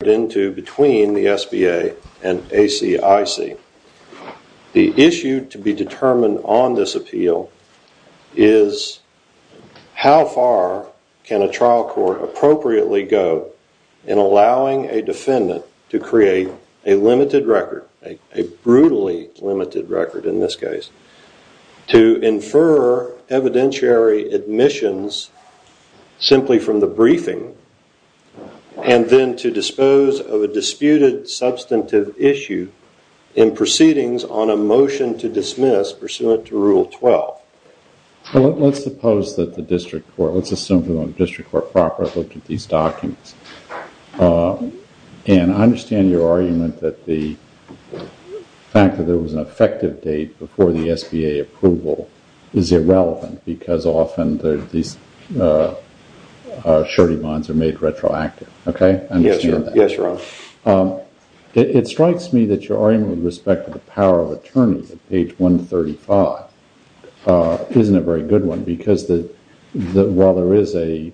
between the SBA and ACIC. The issue to be determined on this appeal is how far can a trial court appropriately go in allowing a defendant to create a limited record, a brutally limited record in this case, to infer evidentiary admissions simply from the briefing and then to dispose of a disputed substantive issue in proceedings on a motion to dismiss pursuant to Rule 12. Well, let's suppose that the district court, let's assume the district court properly looked at these documents. And I understand your argument that the fact that there was an effective date before the SBA approval is irrelevant because often these surety bonds are made retroactive. Okay? Yes, Your Honor. It strikes me that your argument with respect to the power of attorneys at page 135 isn't a very good one because while there is a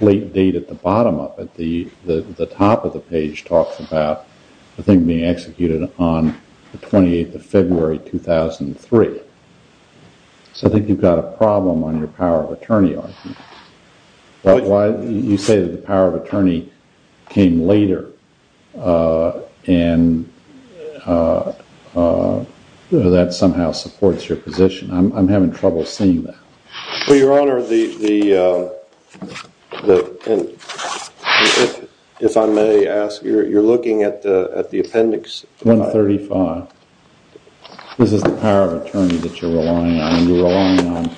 late date at the bottom of it, the top of the page talks about the thing being executed on the 28th of February 2003. So I think you've got a problem on your power of attorney argument. You say that the power of attorney came later and that somehow supports your position. I'm having trouble seeing that. Well, Your Honor, if I may ask, you're looking at the appendix. 135. This is the power of attorney that you're relying on. You're relying on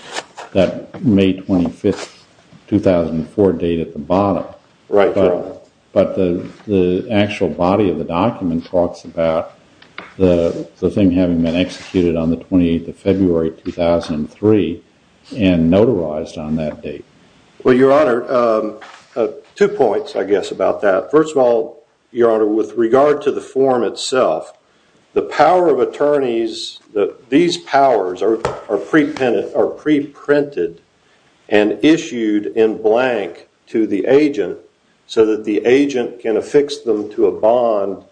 that May 25, 2004 date at the bottom. Right, Your Honor. But the actual body of the document talks about the thing having been executed on the 28th of February 2003 and notarized on that date. Well, Your Honor, two points, I guess, about that. First of all, Your Honor, with regard to the form itself, these powers are preprinted and issued in blank to the agent so that the agent can affix them to a bond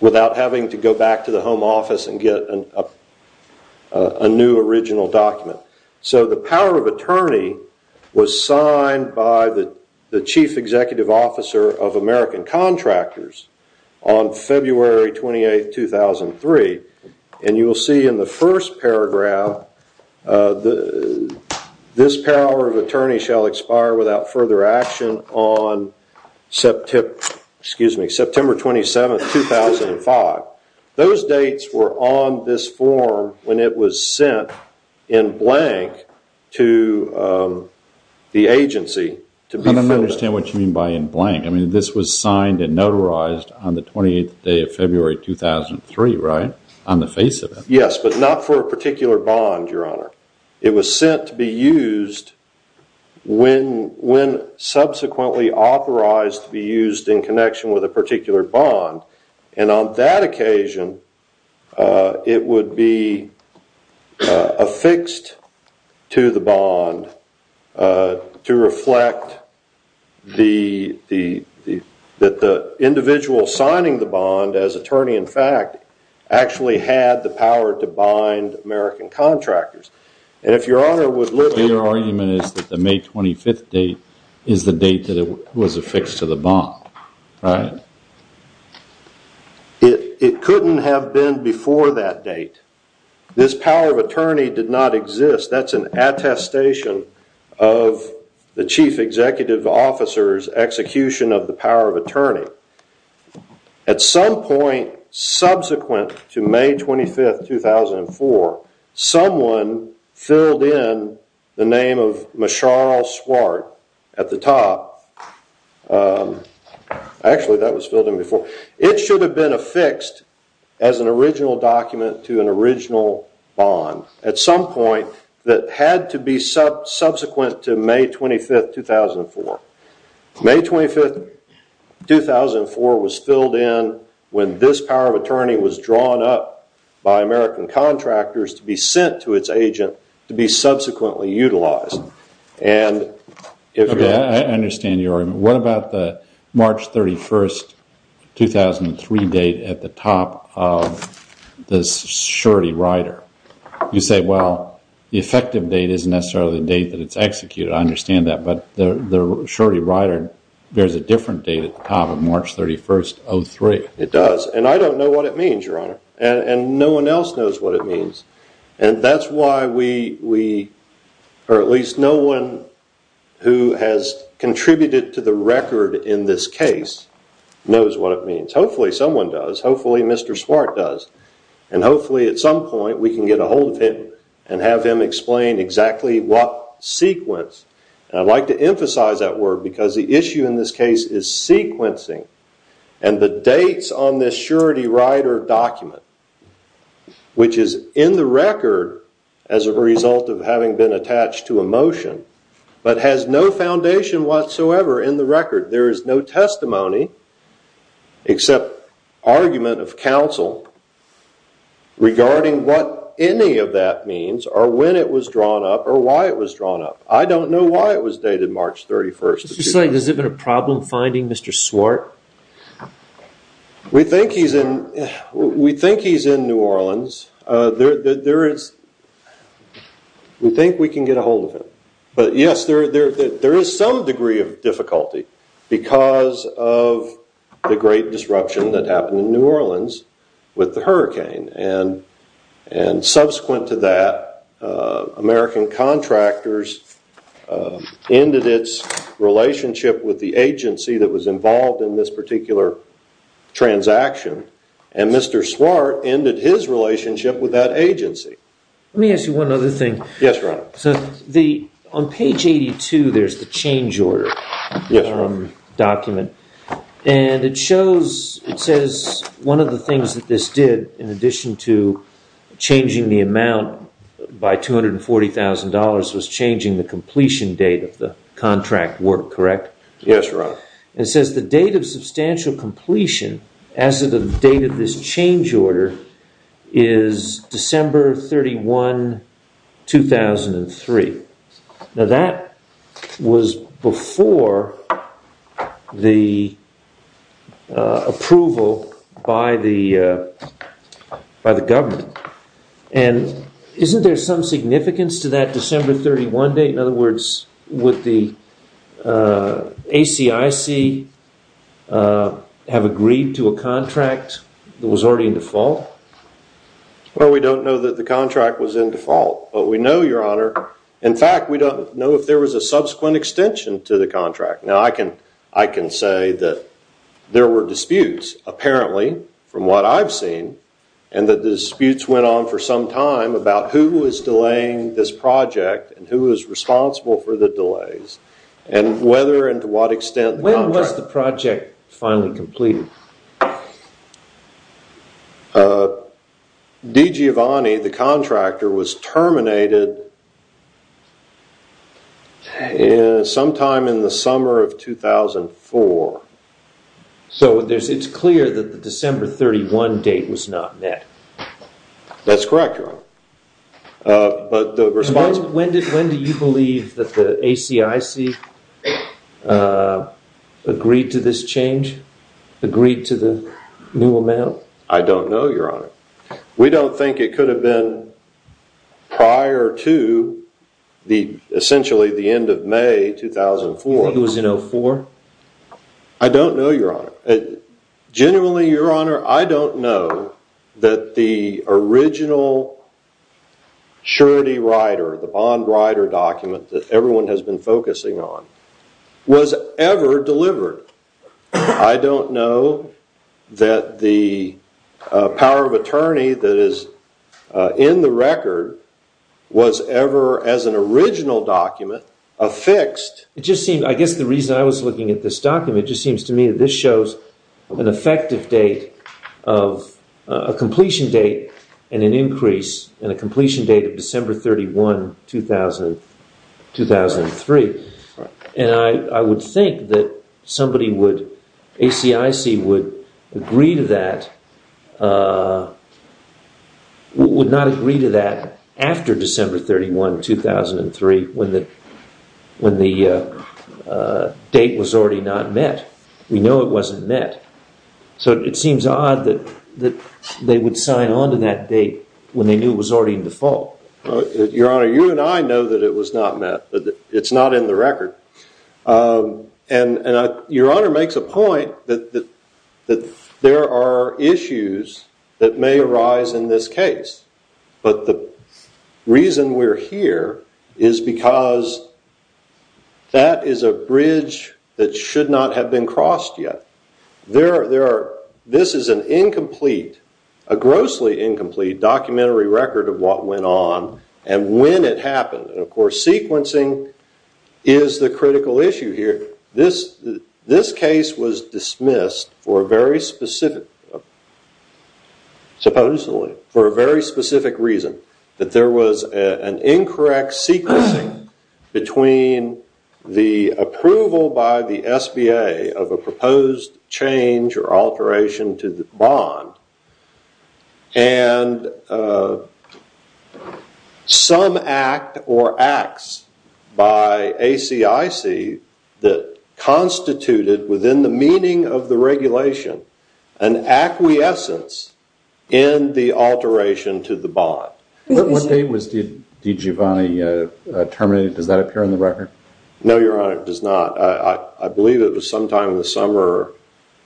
without having to go back to the home office and get a new original document. So the power of attorney was signed by the chief executive officer of American Contractors on February 28, 2003. And you will see in the first paragraph, this power of attorney shall expire without further action on September 27, 2005. Those dates were on this form when it was sent in blank to the agency. I don't understand what you mean by in blank. I mean, this was signed and notarized on the 28th day of February 2003, right? On the face of it. Yes, but not for a particular bond, Your Honor. It was sent to be used when subsequently authorized to be used in connection with a particular bond. And on that occasion, it would be affixed to the bond to reflect that the individual signing the bond as attorney, in fact, actually had the power to bind American Contractors. Your argument is that the May 25th date is the date that it was affixed to the bond, right? It couldn't have been before that date. This power of attorney did not exist. That's an attestation of the chief executive officer's execution of the power of attorney. At some point subsequent to May 25, 2004, someone filled in the name of Mesharl Swart at the top. Actually, that was filled in before. It should have been affixed as an original document to an original bond at some point that had to be subsequent to May 25, 2004. May 25, 2004 was filled in when this power of attorney was drawn up by American Contractors to be sent to its agent to be subsequently utilized. I understand your argument. What about the March 31, 2003 date at the top of the surety rider? You say, well, the effective date isn't necessarily the date that it's executed. I understand that. But the surety rider bears a different date at the top of March 31, 2003. It does. I don't know what it means, Your Honor. No one else knows what it means. That's why we, or at least no one who has contributed to the record in this case, knows what it means. Hopefully someone does. Hopefully Mr. Swart does. Hopefully at some point we can get a hold of him and have him explain exactly what sequence. I'd like to emphasize that word because the issue in this case is sequencing and the dates on this surety rider document, which is in the record as a result of having been attached to a motion, but has no foundation whatsoever in the record. There is no testimony except argument of counsel regarding what any of that means or when it was drawn up or why it was drawn up. I don't know why it was dated March 31. Is it a problem finding Mr. Swart? We think he's in New Orleans. We think we can get a hold of him. But yes, there is some degree of difficulty because of the great disruption that happened in New Orleans with the hurricane. Subsequent to that, American contractors ended its relationship with the agency that was involved in this particular transaction. Mr. Swart ended his relationship with that agency. Let me ask you one other thing. Yes, Ron. On page 82 there is the change order document. It shows, it says one of the things that this did in addition to changing the amount by $240,000 was changing the completion date of the contract work, correct? Yes, Ron. It says the date of substantial completion as of the date of this change order is December 31, 2003. Now that was before the approval by the government. Isn't there some significance to that December 31 date? In other words, would the ACIC have agreed to a contract that was already in default? Well, we don't know that the contract was in default. But we know, Your Honor, in fact, we don't know if there was a subsequent extension to the contract. Now I can say that there were disputes, apparently, from what I've seen, and that the disputes went on for some time about who was delaying this project and who was responsible for the delays. And whether and to what extent... When was the project finally completed? D. Giovanni, the contractor, was terminated sometime in the summer of 2004. So it's clear that the December 31 date was not met. When do you believe that the ACIC agreed to this change, agreed to the new amount? I don't know, Your Honor. We don't think it could have been prior to essentially the end of May 2004. You think it was in 2004? I don't know, Your Honor. Genuinely, Your Honor, I don't know that the original surety rider, the bond rider document that everyone has been focusing on, was ever delivered. I don't know that the power of attorney that is in the record was ever, as an original document, affixed. I guess the reason I was looking at this document just seems to me that this shows an effective date, a completion date, and an increase, and a completion date of December 31, 2003. And I would think that somebody would...ACIC would agree to that...would not agree to that after December 31, 2003 when the date was already not met. We know it wasn't met. So it seems odd that they would sign on to that date when they knew it was already in default. Your Honor, you and I know that it was not met. It's not in the record. And Your Honor makes a point that there are issues that may arise in this case. But the reason we're here is because that is a bridge that should not have been crossed yet. This is an incomplete, a grossly incomplete documentary record of what went on and when it happened. Of course, sequencing is the critical issue here. This case was dismissed for a very specific...supposedly for a very specific reason. That there was an incorrect sequencing between the approval by the SBA of a proposed change or alteration to the bond and some act or acts by ACIC that constituted within the meaning of the regulation an acquiescence in the alteration to the bond. What date did Giovanni terminate? Does that appear in the record? No, Your Honor, it does not. I believe it was sometime in the summer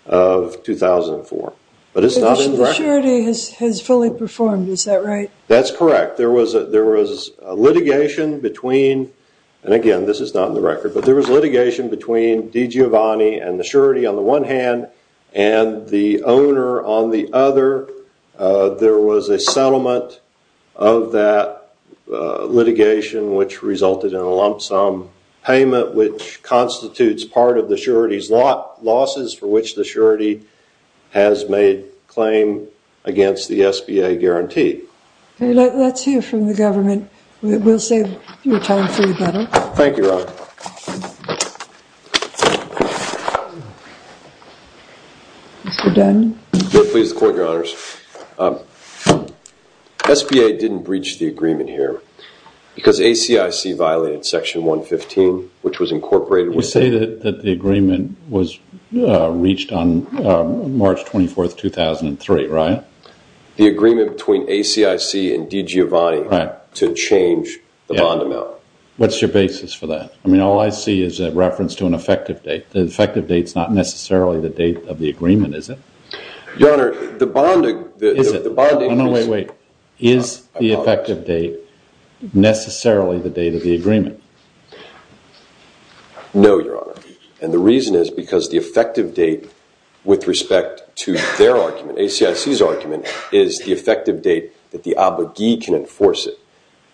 of 2004. But it's not in the record. The surety has fully performed, is that right? That's correct. There was litigation between, and again, this is not in the record, but there was litigation between D. Giovanni and the surety on the one hand and the owner on the other. There was a settlement of that litigation which resulted in a lump sum payment which constitutes part of the surety's losses for which the surety has made claim against the SBA guarantee. Let's hear from the government. We'll save your time for the better. Thank you, Your Honor. Mr. Dunn? Yes, please, the Court, Your Honors. SBA didn't breach the agreement here because ACIC violated Section 115, which was incorporated. You say that the agreement was reached on March 24, 2003, right? The agreement between ACIC and D. Giovanni to change the bond amount. What's your basis for that? I mean, all I see is a reference to an effective date. The effective date's not necessarily the date of the agreement, is it? Your Honor, the bond... Is it? No, no, wait, wait. Is the effective date necessarily the date of the agreement? No, Your Honor, and the reason is because the effective date with respect to their argument, ACIC's argument, is the effective date that the abogee can enforce it.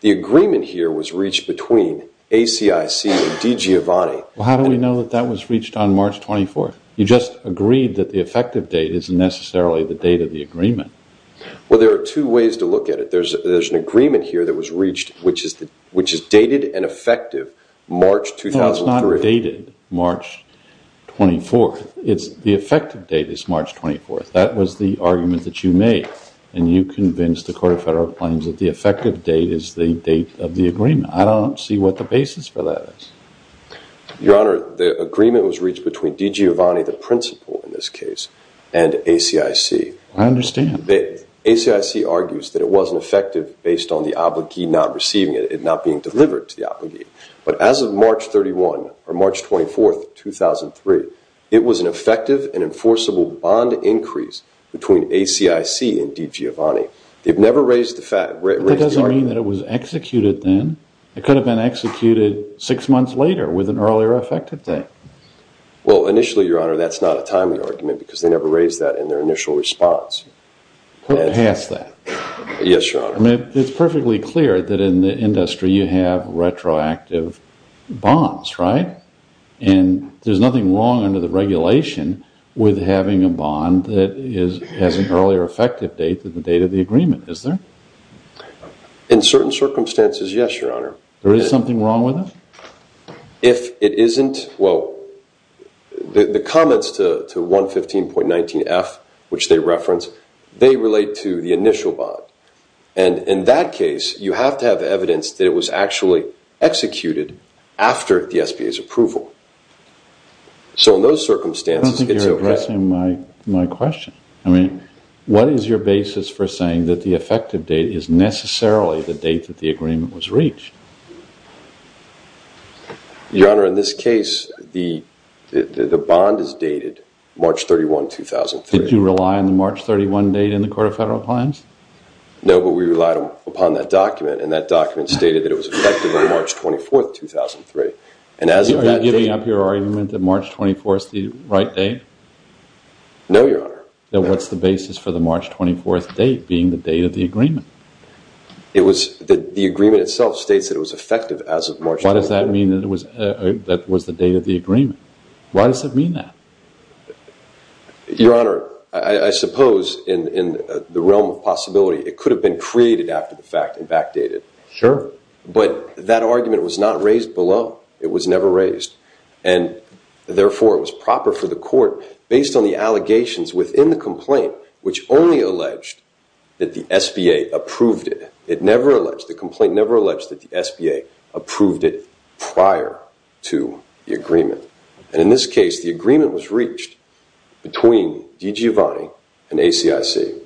The agreement here was reached between ACIC and D. Giovanni. Well, how do we know that that was reached on March 24? You just agreed that the effective date isn't necessarily the date of the agreement. Well, there are two ways to look at it. There's an agreement here that was reached, which is dated and effective March 2003. No, it's not dated March 24. The effective date is March 24. That was the argument that you made, and you convinced the Court of Federal Claims that the effective date is the date of the agreement. I don't see what the basis for that is. Your Honor, the agreement was reached between D. Giovanni, the principal in this case, and ACIC. I understand. ACIC argues that it wasn't effective based on the abogee not receiving it, it not being delivered to the abogee. But as of March 31, or March 24, 2003, it was an effective and enforceable bond increase between ACIC and D. Giovanni. That doesn't mean that it was executed then. It could have been executed six months later with an earlier effective date. Well, initially, Your Honor, that's not a timely argument because they never raised that in their initial response. Put it past that. Yes, Your Honor. It's perfectly clear that in the industry you have retroactive bonds, right? And there's nothing wrong under the regulation with having a bond that has an earlier effective date than the date of the agreement, is there? In certain circumstances, yes, Your Honor. There is something wrong with it? If it isn't, well, the comments to 115.19F, which they reference, they relate to the initial bond. And in that case, you have to have evidence that it was actually executed after the SBA's approval. So in those circumstances, it's okay. I don't think you're addressing my question. I mean, what is your basis for saying that the effective date is necessarily the date that the agreement was reached? Your Honor, in this case, the bond is dated March 31, 2003. Did you rely on the March 31 date in the Court of Federal Claims? No, but we relied upon that document, and that document stated that it was effective on March 24, 2003. Are you giving up your argument that March 24 is the right date? No, Your Honor. Then what's the basis for the March 24 date being the date of the agreement? The agreement itself states that it was effective as of March 24. Why does that mean that it was the date of the agreement? Why does it mean that? Your Honor, I suppose in the realm of possibility, it could have been created after the fact and backdated. Sure. But that argument was not raised below. It was never raised. And, therefore, it was proper for the Court, based on the allegations within the complaint, which only alleged that the SBA approved it. It never alleged, the complaint never alleged that the SBA approved it prior to the agreement. And in this case, the agreement was reached between DG Avani and ACIC,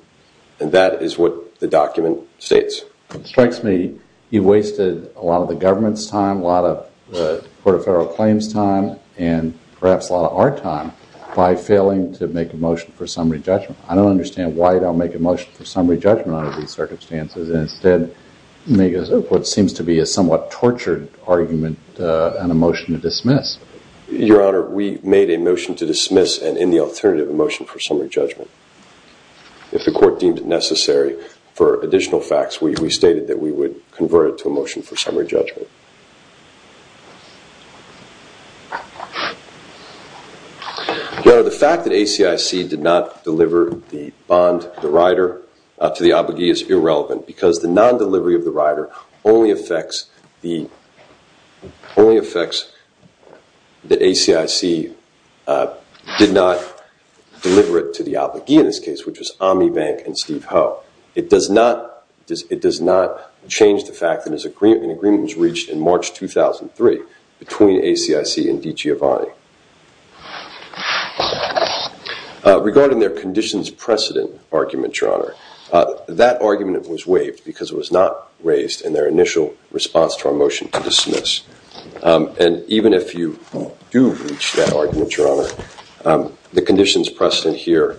and that is what the document states. It strikes me you wasted a lot of the government's time, a lot of the Court of Federal Claims' time, and perhaps a lot of our time by failing to make a motion for summary judgment. I don't understand why you don't make a motion for summary judgment under these circumstances and instead make what seems to be a somewhat tortured argument and a motion to dismiss. Your Honor, we made a motion to dismiss and, in the alternative, a motion for summary judgment. If the Court deemed it necessary for additional facts, we stated that we would convert it to a motion for summary judgment. Your Honor, the fact that ACIC did not deliver the bond, the rider, to the obligee is irrelevant because the non-delivery of the rider only affects the ACIC did not deliver it to the obligee in this case, which was Ami Bank and Steve Ho. It does not change the fact that an agreement was reached in March 2003 between ACIC and DG Avani. Regarding their conditions precedent argument, Your Honor, that argument was waived because it was not raised in their initial response to our motion to dismiss. And even if you do reach that argument, Your Honor, the conditions precedent here,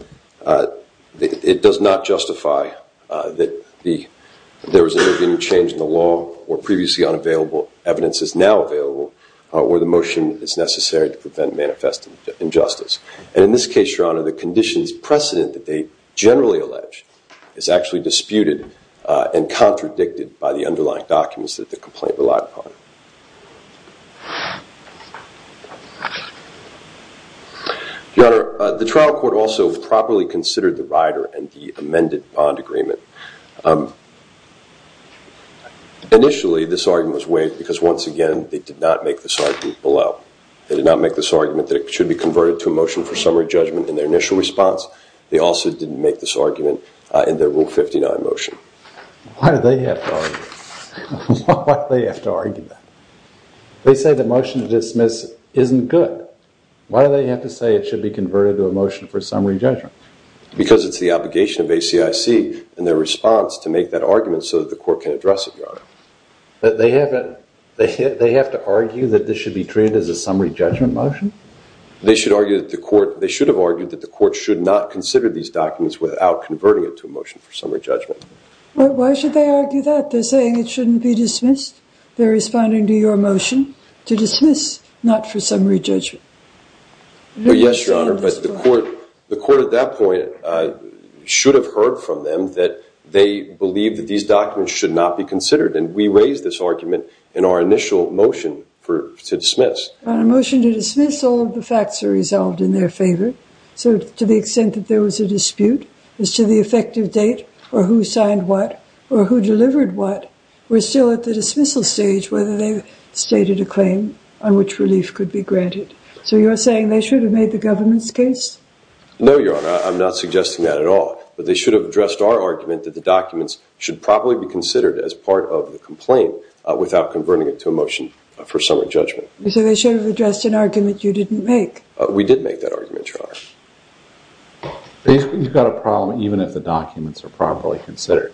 it does not justify that there was an intervening change in the law or previously unavailable evidence is now available where the motion is necessary to prevent manifest injustice. And in this case, Your Honor, the conditions precedent that they generally allege is actually disputed and contradicted by the underlying documents that the complaint relied upon. Your Honor, the trial court also properly considered the rider and the amended bond agreement. Initially, this argument was waived because, once again, they did not make this argument below. They did not make this argument that it should be converted to a motion for summary judgment in their initial response. They also didn't make this argument in their Rule 59 motion. Why do they have to argue that? They say the motion to dismiss isn't good. Why do they have to say it should be converted to a motion for summary judgment? Because it's the obligation of ACIC in their response to make that argument so that the court can address it, Your Honor. But they have to argue that this should be treated as a summary judgment motion? They should have argued that the court should not consider these documents without converting it to a motion for summary judgment. Why should they argue that? They're saying it shouldn't be dismissed. They're responding to your motion to dismiss, not for summary judgment. Yes, Your Honor, but the court at that point should have heard from them that they believe that these documents should not be considered. And we raised this argument in our initial motion to dismiss. On a motion to dismiss, all of the facts are resolved in their favor. So to the extent that there was a dispute as to the effective date or who signed what or who delivered what, we're still at the dismissal stage whether they've stated a claim on which relief could be granted. So you're saying they should have made the government's case? No, Your Honor, I'm not suggesting that at all. But they should have addressed our argument that the documents should properly be considered as part of the complaint without converting it to a motion for summary judgment. So they should have addressed an argument you didn't make? We did make that argument, Your Honor. Basically, you've got a problem even if the documents are properly considered.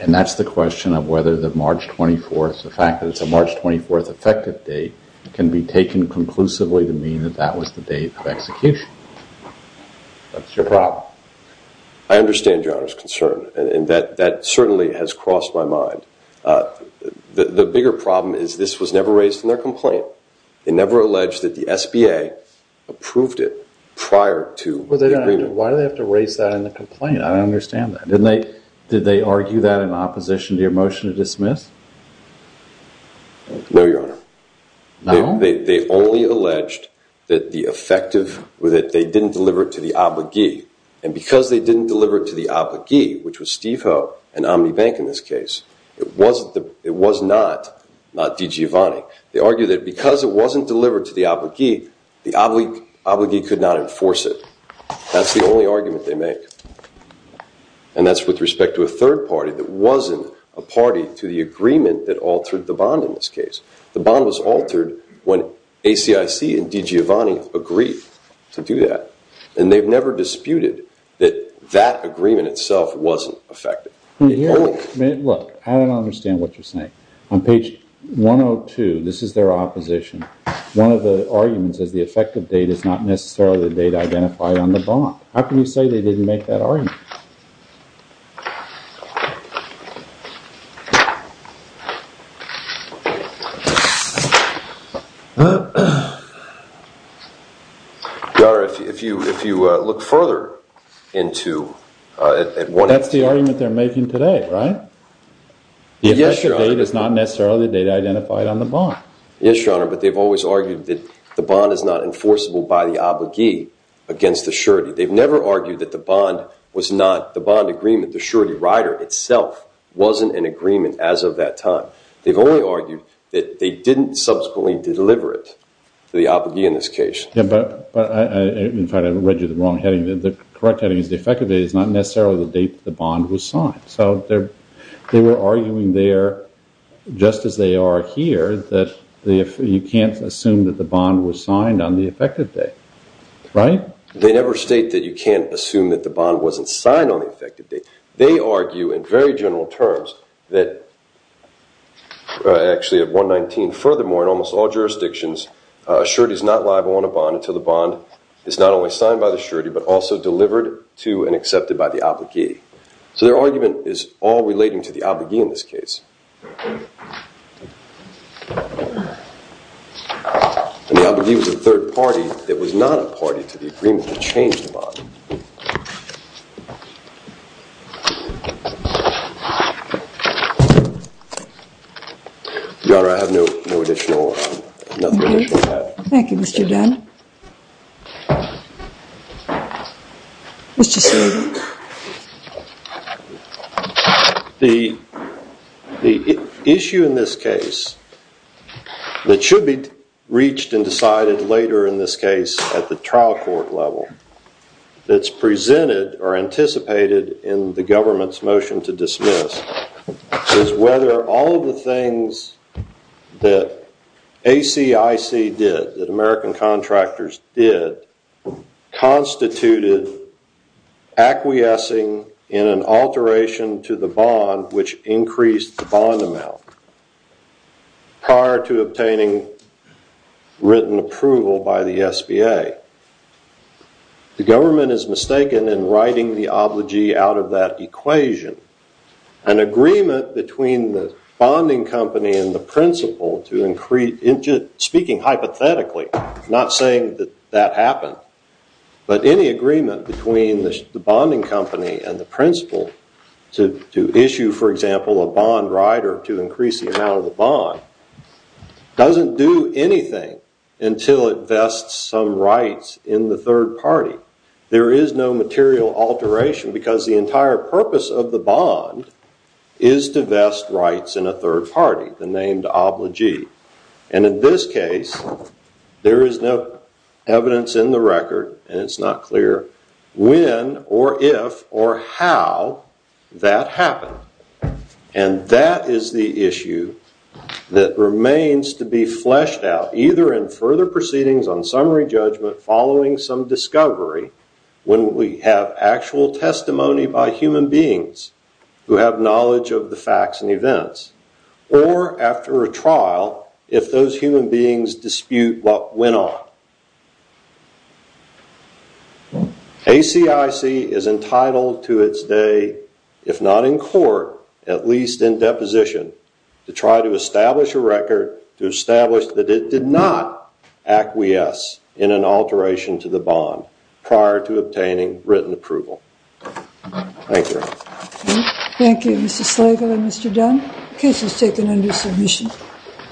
And that's the question of whether the March 24th, the fact that it's a March 24th effective date, can be taken conclusively to mean that that was the date of execution. That's your problem. I understand Your Honor's concern, and that certainly has crossed my mind. The bigger problem is this was never raised in their complaint. They never alleged that the SBA approved it prior to the agreement. Why do they have to raise that in the complaint? I don't understand that. Did they argue that in opposition to your motion to dismiss? No, Your Honor. No? They only alleged that they didn't deliver it to the abogee. And because they didn't deliver it to the abogee, which was Steve Ho and Omni Bank in this case, it was not DiGiovanni. They argued that because it wasn't delivered to the abogee, the abogee could not enforce it. That's the only argument they make. And that's with respect to a third party that wasn't a party to the agreement that altered the bond in this case. The bond was altered when ACIC and DiGiovanni agreed to do that. And they've never disputed that that agreement itself wasn't effective. Look, I don't understand what you're saying. On page 102, this is their opposition. One of the arguments is the effective date is not necessarily the date identified on the bond. How can you say they didn't make that argument? Your Honor, if you look further into… That's the argument they're making today, right? The effective date is not necessarily the date identified on the bond. Yes, Your Honor, but they've always argued that the bond is not enforceable by the abogee against the surety. They've never argued that the bond agreement, the surety rider itself, wasn't an agreement as of that time. They've only argued that they didn't subsequently deliver it to the abogee in this case. In fact, I read you the wrong heading. The correct heading is the effective date is not necessarily the date the bond was signed. So they were arguing there, just as they are here, that you can't assume that the bond was signed on the effective date. Right? They never state that you can't assume that the bond wasn't signed on the effective date. They argue in very general terms that actually at 119, furthermore, in almost all jurisdictions, a surety is not liable on a bond until the bond is not only signed by the surety but also delivered to and accepted by the abogee. So their argument is all relating to the abogee in this case. And the abogee was a third party that was not a party to the agreement to change the bond. Your Honour, I have nothing additional to add. Thank you, Mr Dunn. Mr Sweeney. The issue in this case that should be reached and decided later in this case at the trial court level that's presented or anticipated in the government's motion to dismiss is whether all of the things that ACIC did, that American contractors did, constituted acquiescing in an alteration to the bond which increased the bond amount prior to obtaining written approval by the SBA. The government is mistaken in writing the abogee out of that equation. An agreement between the bonding company and the principal, speaking hypothetically, not saying that that happened, but any agreement between the bonding company and the principal to issue, for example, a bond right or to increase the amount of the bond, doesn't do anything until it vests some rights in the third party. There is no material alteration because the entire purpose of the bond is to vest rights in a third party, the named abogee. And in this case, there is no evidence in the record, and it's not clear, when or if or how that happened. And that is the issue that remains to be fleshed out, either in further proceedings on summary judgment following some discovery, when we have actual testimony by human beings who have knowledge of the facts and events, or after a trial, if those human beings dispute what went on. ACIC is entitled to its day, if not in court, at least in deposition, to try to establish a record, to establish that it did not acquiesce in an alteration to the bond prior to obtaining written approval. Thank you. Thank you, Mr. Slagle and Mr. Dunn. The case is taken under submission.